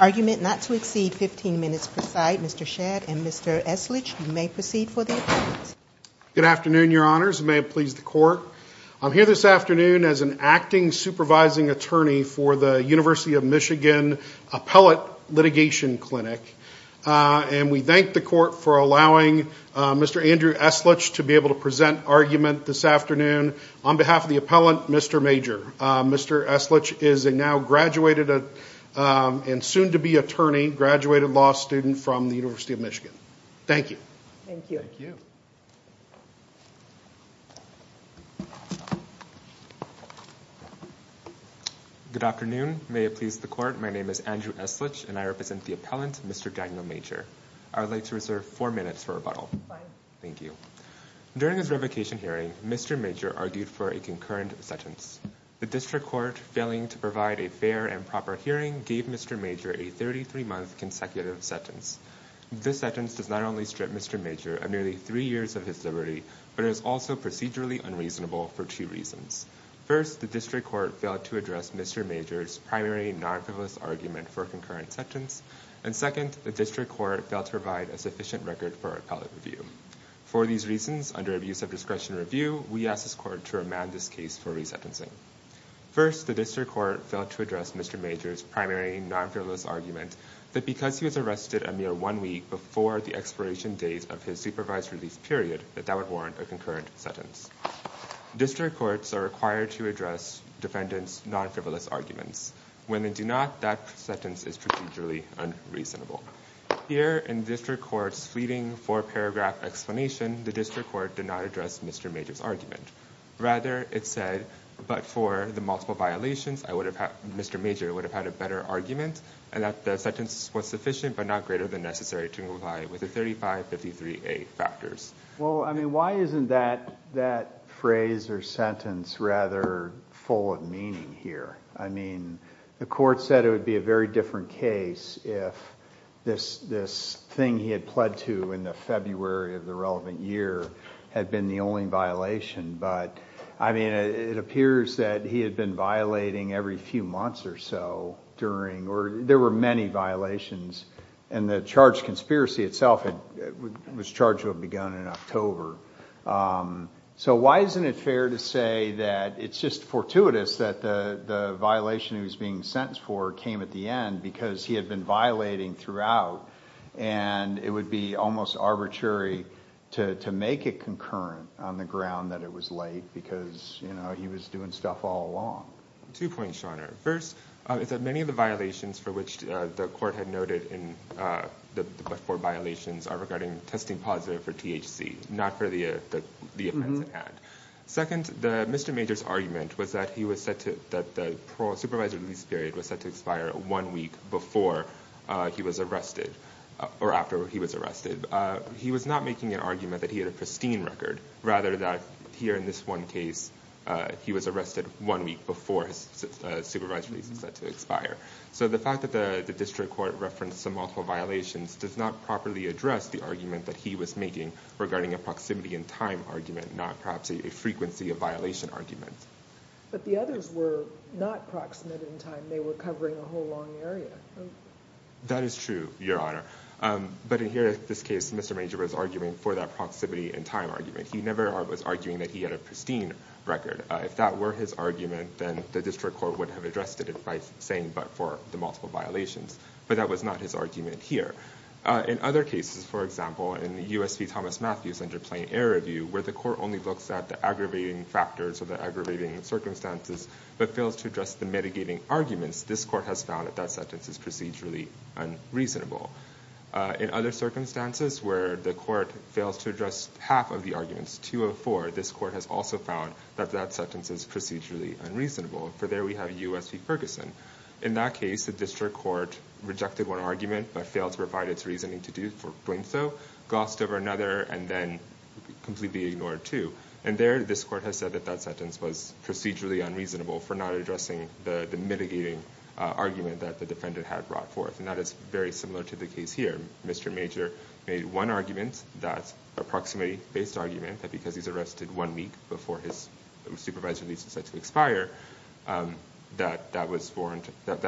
Argument not to exceed 15 minutes per side. Mr. Shedd and Mr. Eslitch, you may proceed for the argument. Good afternoon, your honors. May it please the court. I'm here this afternoon as an acting supervising attorney for the University of Michigan Appellate Litigation Clinic. And we thank the court for allowing Mr. Andrew Eslitch to be able to present argument this afternoon on behalf of the appellant, Mr. Major. Mr. Eslitch is a now graduated and soon-to-be attorney, graduated law student from the University of Michigan. Thank you. Thank you. Good afternoon. May it please the court. My name is Andrew Eslitch and I represent the appellant, Mr. Daniel Major. I would like to reserve four minutes for rebuttal. Fine. Thank you. During his revocation hearing, Mr. Major argued for a concurrent sentence. The district court, failing to provide a fair and proper hearing, gave Mr. Major a 33-month consecutive sentence. This sentence does not only strip Mr. Major of nearly three years of his liberty, but is also procedurally unreasonable for two reasons. First, the district court failed to address Mr. Major's primary non-fivolous argument for a concurrent sentence. And second, the district court failed to provide a sufficient record for appellate review. For these reasons, under abuse of discretion review, we ask this court to remand this case for resentencing. First, the district court failed to address Mr. Major's primary non-fivolous argument that because he was arrested a mere one week before the expiration date of his supervised release period, that that would warrant a concurrent sentence. District courts are required to address defendants' non-fivolous arguments. When they do not, that sentence is procedurally unreasonable. Here, in district court's fleeting four-paragraph explanation, the district court did not address Mr. Major's argument. Rather, it said, but for the multiple violations, Mr. Major would have had a better argument, and that the sentence was sufficient but not greater than necessary to comply with the 3553A factors. Well, I mean, why isn't that phrase or sentence rather full of meaning here? I mean, the court said it would be a very different case if this thing he had pled to in the February of the relevant year had been the only violation, but, I mean, it appears that he had been violating every few months or so during, or there were many violations, and the charged conspiracy itself was charged to have begun in October. So why isn't it fair to say that it's just fortuitous that the violation he was being sentenced for came at the end because he had been violating throughout, and it would be almost arbitrary to make it concurrent on the ground that it was late because, you know, he was doing stuff all along. Two points, Your Honor. First, it's that many of the violations for which the court had noted in the four violations are regarding testing positive for THC, not for the offense of an ad. Second, Mr. Major's argument was that he was set to, that the supervised release period was set to expire one week before he was arrested, or after he was arrested. He was not making an argument that he had a pristine record, rather that here in this one case he was arrested one week before his supervised release was set to expire. So the fact that the district court referenced some multiple violations does not properly address the argument that he was making regarding a proximity in time argument, not perhaps a frequency of violation argument. But the others were not proximate in time. They were covering a whole long area. That is true, Your Honor. But in here, in this case, Mr. Major was arguing for that proximity in time argument. He never was arguing that he had a pristine record. If that were his argument, then the district court would have addressed it by saying but for the multiple in the U.S. v. Thomas Matthews interplane error review, where the court only looks at the aggravating factors or the aggravating circumstances, but fails to address the mitigating arguments this court has found that that sentence is procedurally unreasonable. In other circumstances where the court fails to address half of the arguments, 204, this court has also found that that sentence is procedurally unreasonable. For there we have U.S. v. Ferguson. In that case, the district court rejected one argument, but failed to provide its reasoning to do so, glossed over another, and then completely ignored two. And there, this court has said that that sentence was procedurally unreasonable for not addressing the mitigating argument that the defendant had brought forth. And that is very similar to the case here. Mr. Major made one argument, that proximity-based argument, that because he's arrested one week before his supervised release is set to expire, that that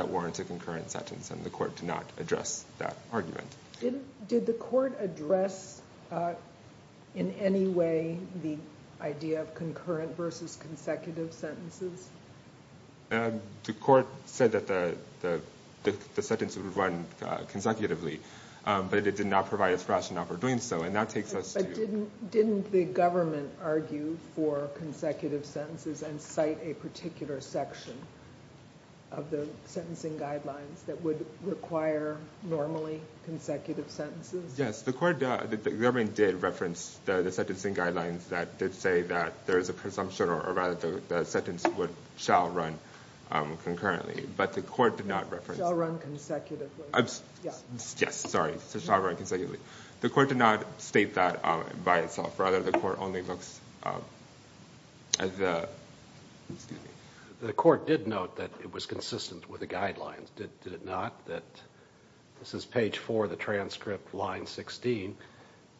warrants a concurrent sentence and the court did not address that argument. Did the court address, in any way, the idea of concurrent versus consecutive sentences? The court said that the sentence would run consecutively, but it did not provide its rationale for doing so. And that takes us to... But didn't the government argue for consecutive sentences and cite a particular section of the sentencing guidelines that would require normally consecutive sentences? Yes. The government did reference the sentencing guidelines that did say that there is a presumption or rather the sentence shall run concurrently. But the court did not reference... Shall run consecutively. Yes. Sorry. Shall run consecutively. The court did not state that by itself. Rather, the court only looks at the... Excuse me. The court did note that it was consistent with the guidelines, did it not? That this is page four of the transcript, line 16.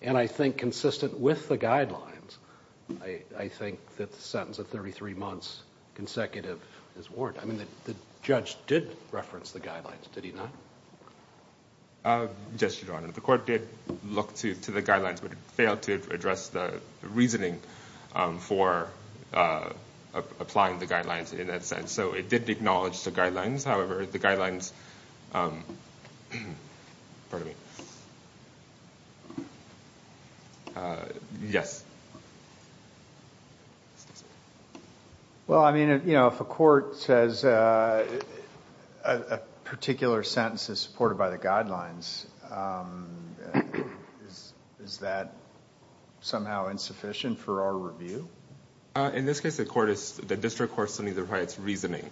And I think consistent with the guidelines, I think that the sentence of 33 months consecutive is warranted. I mean, the judge did reference the guidelines, did he not? Just your honor, the court did look to the guidelines, but it failed to address the reasoning for applying the guidelines in that sense. So it did acknowledge the guidelines. However, the guidelines... Pardon me. Yes. Well, I mean, if a court says a particular sentence is supported by the guidelines, is that somehow insufficient for our review? In this case, the court is... The district court still needs to provide its reasoning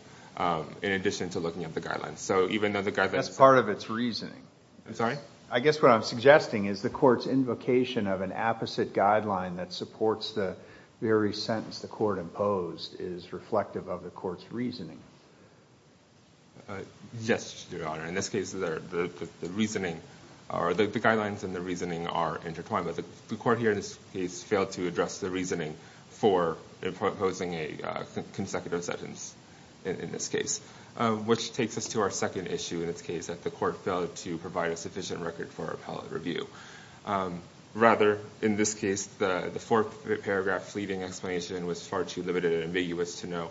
in addition to looking at the guidelines. So even though the guidelines... That's part of its reasoning. I'm sorry? I guess what I'm suggesting is the court's invocation of an apposite guideline that supports the very sentence the court imposed is reflective of the court's reasoning. Yes, your honor. In this case, the reasoning... The guidelines and the reasoning are intertwined, but the court here in this case failed to address the reasoning for imposing a consecutive sentence in this case. Which takes us to our second issue in this case, that the court failed to provide a sufficient record for appellate review. Rather, in this case, the fourth paragraph fleeting explanation was far too limited and ambiguous to know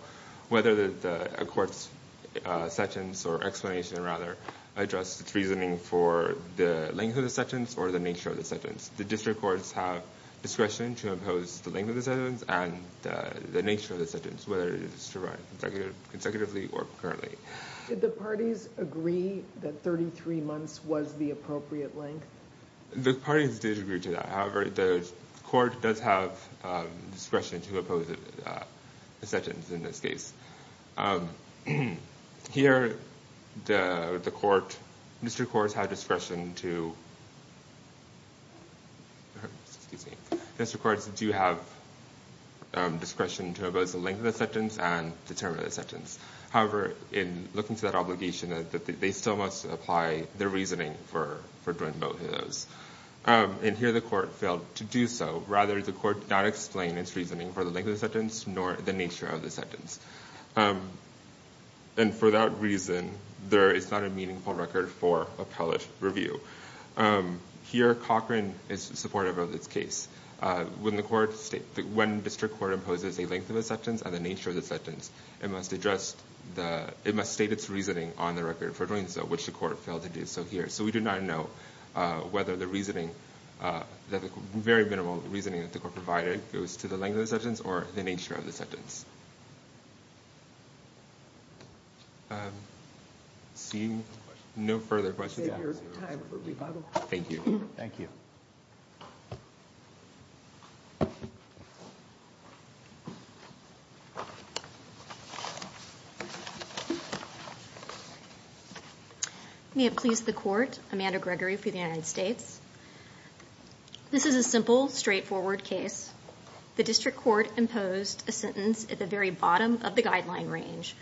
whether a court's sentence, or explanation rather, addressed its reasoning for the length of the sentence or the nature of the sentence. The district courts have discretion to impose the length of the sentence and the nature of the sentence, whether it is to run consecutively or concurrently. Did the parties agree that 33 months was the appropriate length? The parties did agree to that. However, the court does have discretion to impose a sentence in this case. Here, the court... District courts have discretion to... District courts do have discretion to impose the length of the sentence and the term of the sentence. However, in looking to that obligation, they still must apply their reasoning for doing both of those. And here, the court failed to do so. Rather, the court did not explain its reasoning for the length of the sentence, nor the nature of the sentence. And for that reason, there is not a meaningful record for appellate review. Here, Cochran is supportive of this case. When the court... When district court imposes a length of the sentence and the nature of the sentence, it must address the... It must state its reasoning on the record for doing so, which the court failed to do so here. So we do not know whether the reasoning... The very minimal reasoning that the court provided goes to the length of the sentence or the nature of the sentence. Seeing no further questions... Thank you. May it please the court. Amanda Gregory for the United States. This is a simple, straightforward case. The district court imposed a sentence at the very bottom of the guideline range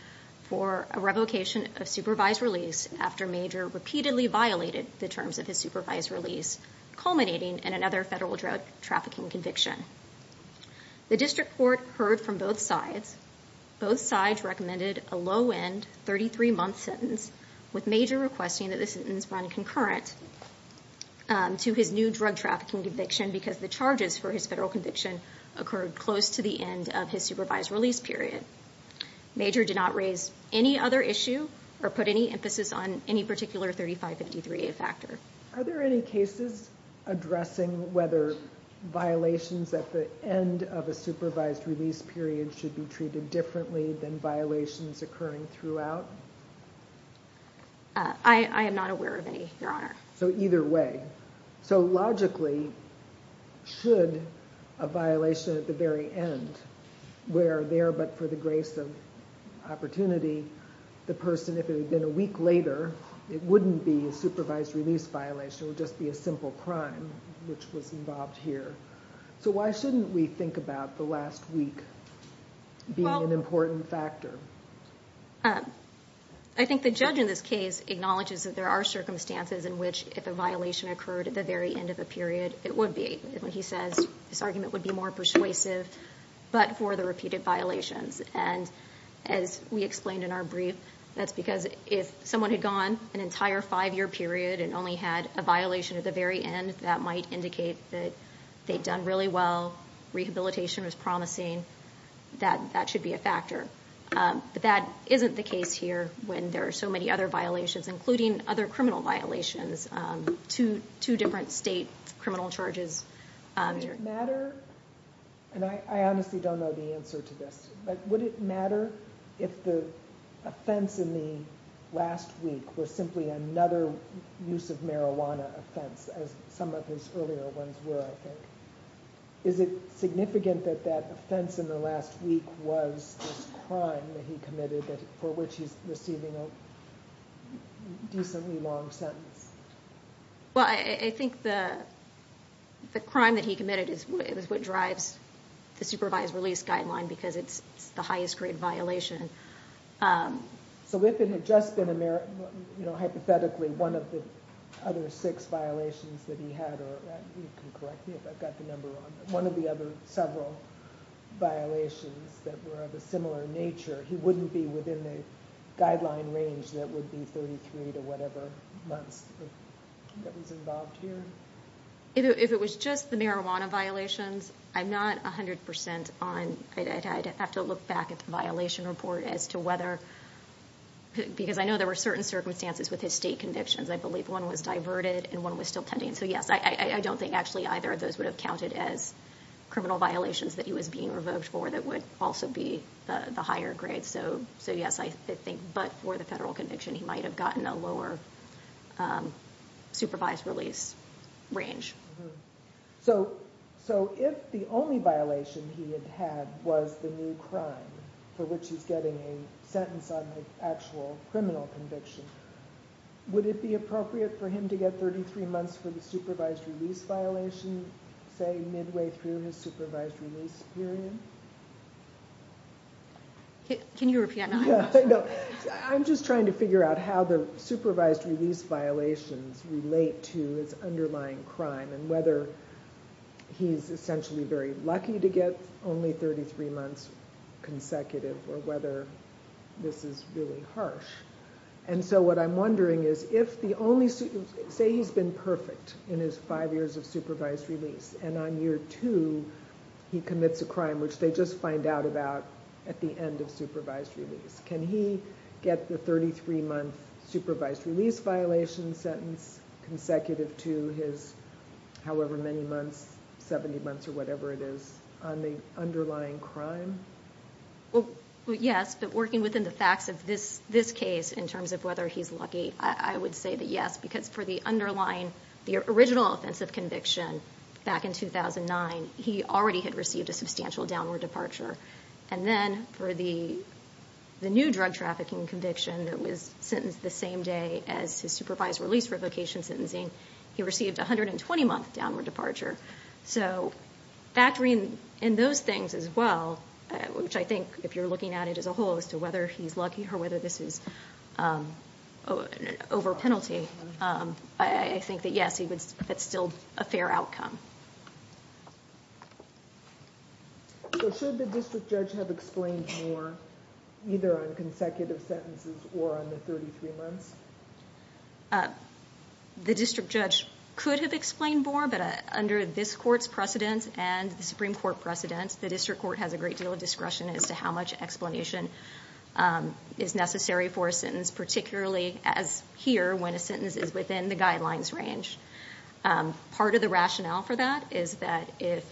for a revocation of supervised release after Major repeatedly violated the terms of his supervised release, culminating in another federal drug trafficking conviction. The district court heard from both sides. Both sides recommended a low-end 33-month sentence with Major requesting that the sentence run concurrent to his new drug trafficking conviction because the charges for his federal conviction occurred close to the end of his supervised release period. Major did not raise any other issue or put any emphasis on any particular 3553A factor. I think the judge in this case acknowledges that there are circumstances in which if a violation occurred at the very end of a period, it would be. He says this argument would be more persuasive, but for the repeated violations. And as we explained in our brief, that's because if someone had gone an entire five-year period and only had a violation at the very end, that might indicate that they'd done really well. Rehabilitation was promising. That should be a factor. But that isn't the case here when there are so many other violations, including other criminal violations. Two different state criminal charges. Would it matter, and I honestly don't know the answer to this, but would it matter if the offense in the last week was simply another use of marijuana offense, as some of his earlier ones were, I think? Is it significant that that offense in the last week was this crime that he committed for which he's receiving a decently long sentence? Well, I think the crime that he committed is what drives the supervised release guideline because it's the highest grade violation. So if it had just been, hypothetically, one of the other six violations that he had, or you can correct me if I've got the number wrong, but one of the other several violations that were of a similar nature, he wouldn't be within the guideline range that would be 33 to whatever months that was involved here? If it was just the marijuana violations, I'm not 100 percent on, I'd have to look back at the violation report as to whether, because I know there were certain circumstances with his state convictions. I believe one was diverted and one was still pending. So yes, I don't think actually either of those would have counted as criminal violations that he was being revoked for that would also be the higher grade. So yes, I think, but for the federal conviction, he might have gotten a lower supervised release range. So if the only violation he had was the new crime for which he's getting a sentence on the actual criminal conviction, would it be appropriate for him to get 33 months for the supervised release violation, say midway through his supervised release period? Can you repeat that? I'm just trying to figure out how the supervised release violations relate to his underlying crime and whether he's essentially very lucky to get only 33 months consecutive or whether this is really harsh. And so what I'm wondering is if the only, say he's been perfect in his five years of supervised release and on year two he commits a crime which they just find out about at the end of the sentence, can he get the 33 month supervised release violation sentence consecutive to his however many months, 70 months or whatever it is on the underlying crime? Well, yes, but working within the facts of this case in terms of whether he's lucky, I would say that yes, because for the underlying, the original offensive conviction back in 2009, he already had a new drug trafficking conviction that was sentenced the same day as his supervised release revocation sentencing. He received 120 month downward departure. So factoring in those things as well, which I think if you're looking at it as a whole as to whether he's lucky or whether this is an over penalty, I think that yes, it's still a fair outcome. So should the district judge have explained more either on consecutive sentences or on the 33 months? The district judge could have explained more, but under this court's precedence and the Supreme Court precedence, the district court has a great deal of discretion as to how much explanation is necessary for a sentence, particularly as here when a sentence is within the guidelines range. Part of the rationale for that is that if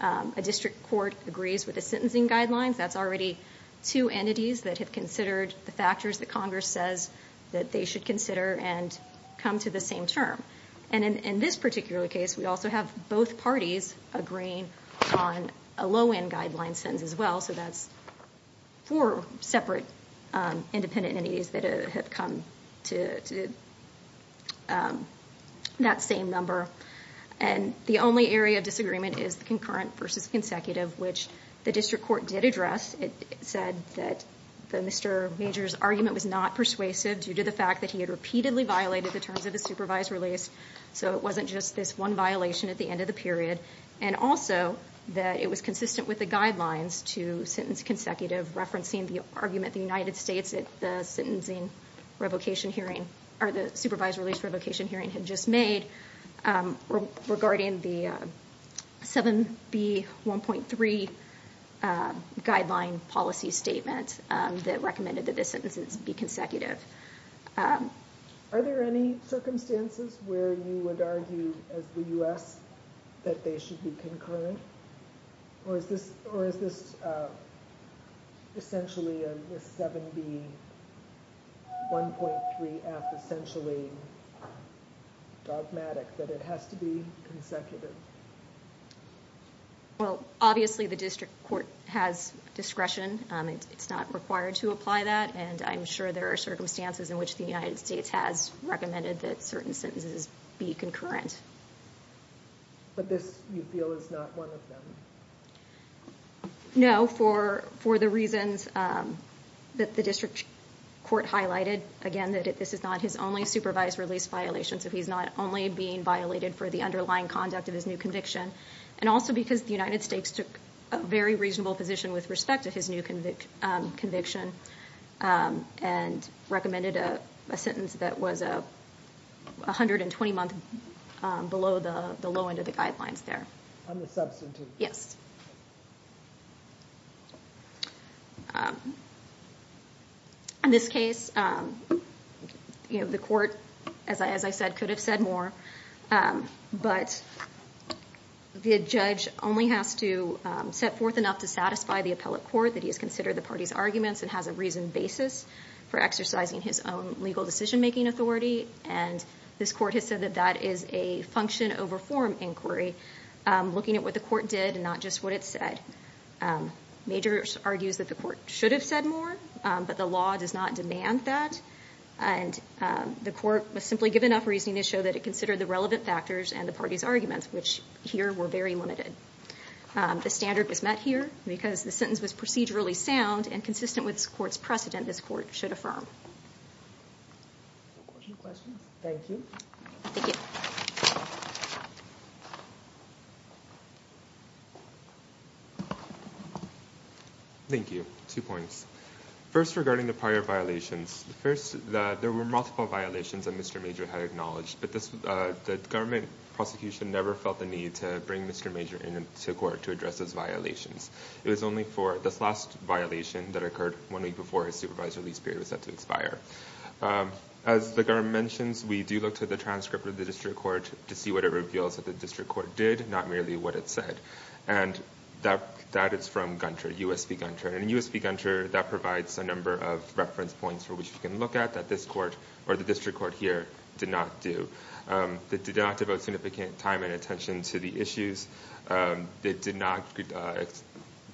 a district court agrees with the sentencing guidelines, that's already two entities that have considered the factors that Congress says that they should consider and come to the same term. And in this particular case, we also have both parties agreeing on a low-end guideline sentence as well. So that's four separate independent entities that have come to that same number. And the only area of disagreement is the concurrent versus consecutive, which the district court did address. It said that Mr. Major's argument was not persuasive due to the fact that he had repeatedly violated the terms of the supervised release. So it wasn't just this one violation at the end of the period. And also that it was consistent with the guidelines to sentence consecutive, referencing the argument the United States at the sentencing revocation hearing had just made regarding the 7B.1.3 guideline policy statement that recommended that this sentence be consecutive. Are there any circumstances where you would argue as the U.S. that they should be concurrent? Or is this essentially a 7B.1.3F essentially dogmatic, that it has to be consecutive? Well, obviously the district court has discretion. It's not required to apply that. And I'm sure there are circumstances in which the United States has recommended that certain sentences be concurrent. But this, you feel, is not one of them? No, for the reasons that the district court highlighted. Again, that this is not his only supervised release violation. So he's not only being violated for the underlying conduct of his new conviction. And also because the United States took a very reasonable position with respect to his new conviction and recommended a sentence that was 120 months below the low end of the guidelines there. In this case, the court, as I said, could have said more. But the judge only has to set forth enough to satisfy the appellate court that he has considered the party's arguments and has a reasoned basis for exercising his own legal decision-making authority. And this court has said that that is a function over form inquiry, looking at what the court did and not just what it said. Major argues that the court should have said more, but the law does not demand that. And the court was simply given enough reasoning to show that it considered the relevant factors and the party's arguments, which here were very limited. The standard was met here because the sentence was procedurally sound and reasonable. Thank you. Two points. First, regarding the prior violations. First, there were multiple violations that Mr. Major had acknowledged, but the government prosecution never felt the need to bring Mr. Major into court to address those violations. It was only for this last violation that occurred one week before his supervised release period was set to expire. As the government mentions, we do look to the transcript of the district court to see what it reveals that the district court did, not merely what it said. And that is from Gunter, U.S. v. Gunter. And in U.S. v. Gunter, that provides a number of reference points for which we can look at that this court or the district court here did not do. It did not devote significant time and attention to the issues. It did not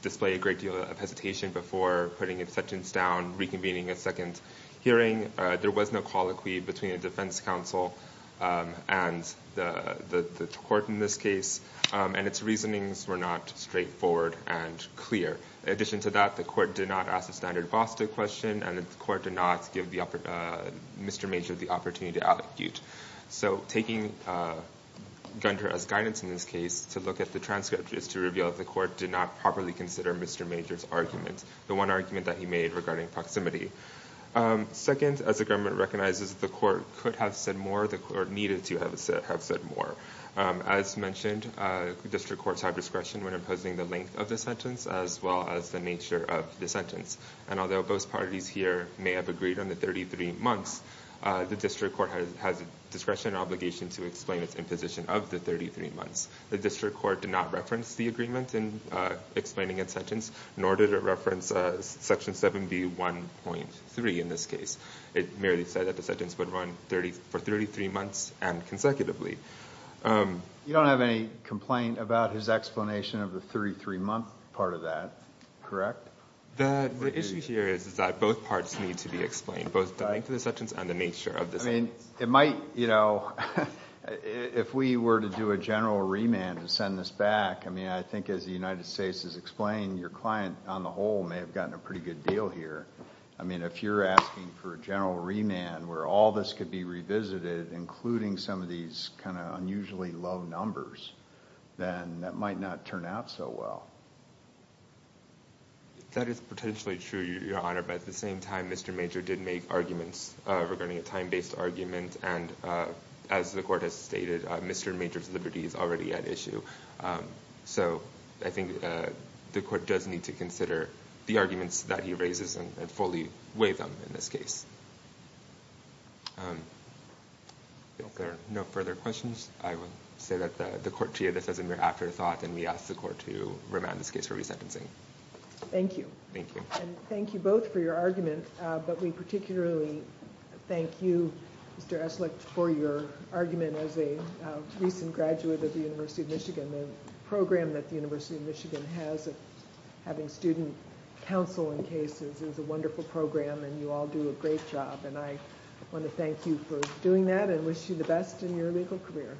display a great deal of hesitation before putting a sentence down, reconvening a second hearing. There was no colloquy between the defense counsel and the court in this case, and its reasonings were not straightforward and clear. In addition to that, the court did not ask the standard boss to question, and the court did not give Mr. Major the opportunity to allecute. So taking Gunter as guidance in this case to look at the transcript is to reveal that the court did not properly consider Mr. Major's argument, the one argument that he made regarding proximity. Second, as the government recognizes that the court could have said more, the court needed to have said more. As mentioned, district courts have discretion when imposing the length of the sentence, as well as the nature of the sentence. And although both parties here may have agreed on the 33 months, the district court has discretion and obligation to explain its imposition of the 33 months. The district court did not reference the agreement in explaining its sentence. Nor did it reference Section 7B1.3 in this case. It merely said that the sentence would run for 33 months and consecutively. You don't have any complaint about his explanation of the 33-month part of that, correct? The issue here is that both parts need to be explained, both the length of the sentence and the nature of the sentence. I mean, it might, you know, if we were to do a general remand to send this back, I mean, I think as the United States has said, your client on the whole may have gotten a pretty good deal here. I mean, if you're asking for a general remand where all this could be revisited, including some of these kind of unusually low numbers, then that might not turn out so well. That is potentially true, Your Honor, but at the same time, Mr. Major did make arguments regarding a time-based argument, and as the court has stated, Mr. Major's liberty is already at issue. So I think the court does need to consider the arguments that he raises and fully weigh them in this case. If there are no further questions, I will say that the court here, this is a mere afterthought, and we ask the court to remand this case for resentencing. Thank you. Thank you. And thank you both for your argument, but we particularly thank you, Mr. Eslick, for your argument as a recent graduate of the University of Michigan. The program that the University of Michigan has of having student counsel in cases is a wonderful program, and you all do a great job, and I want to thank you for doing that and wish you the best in your legal career.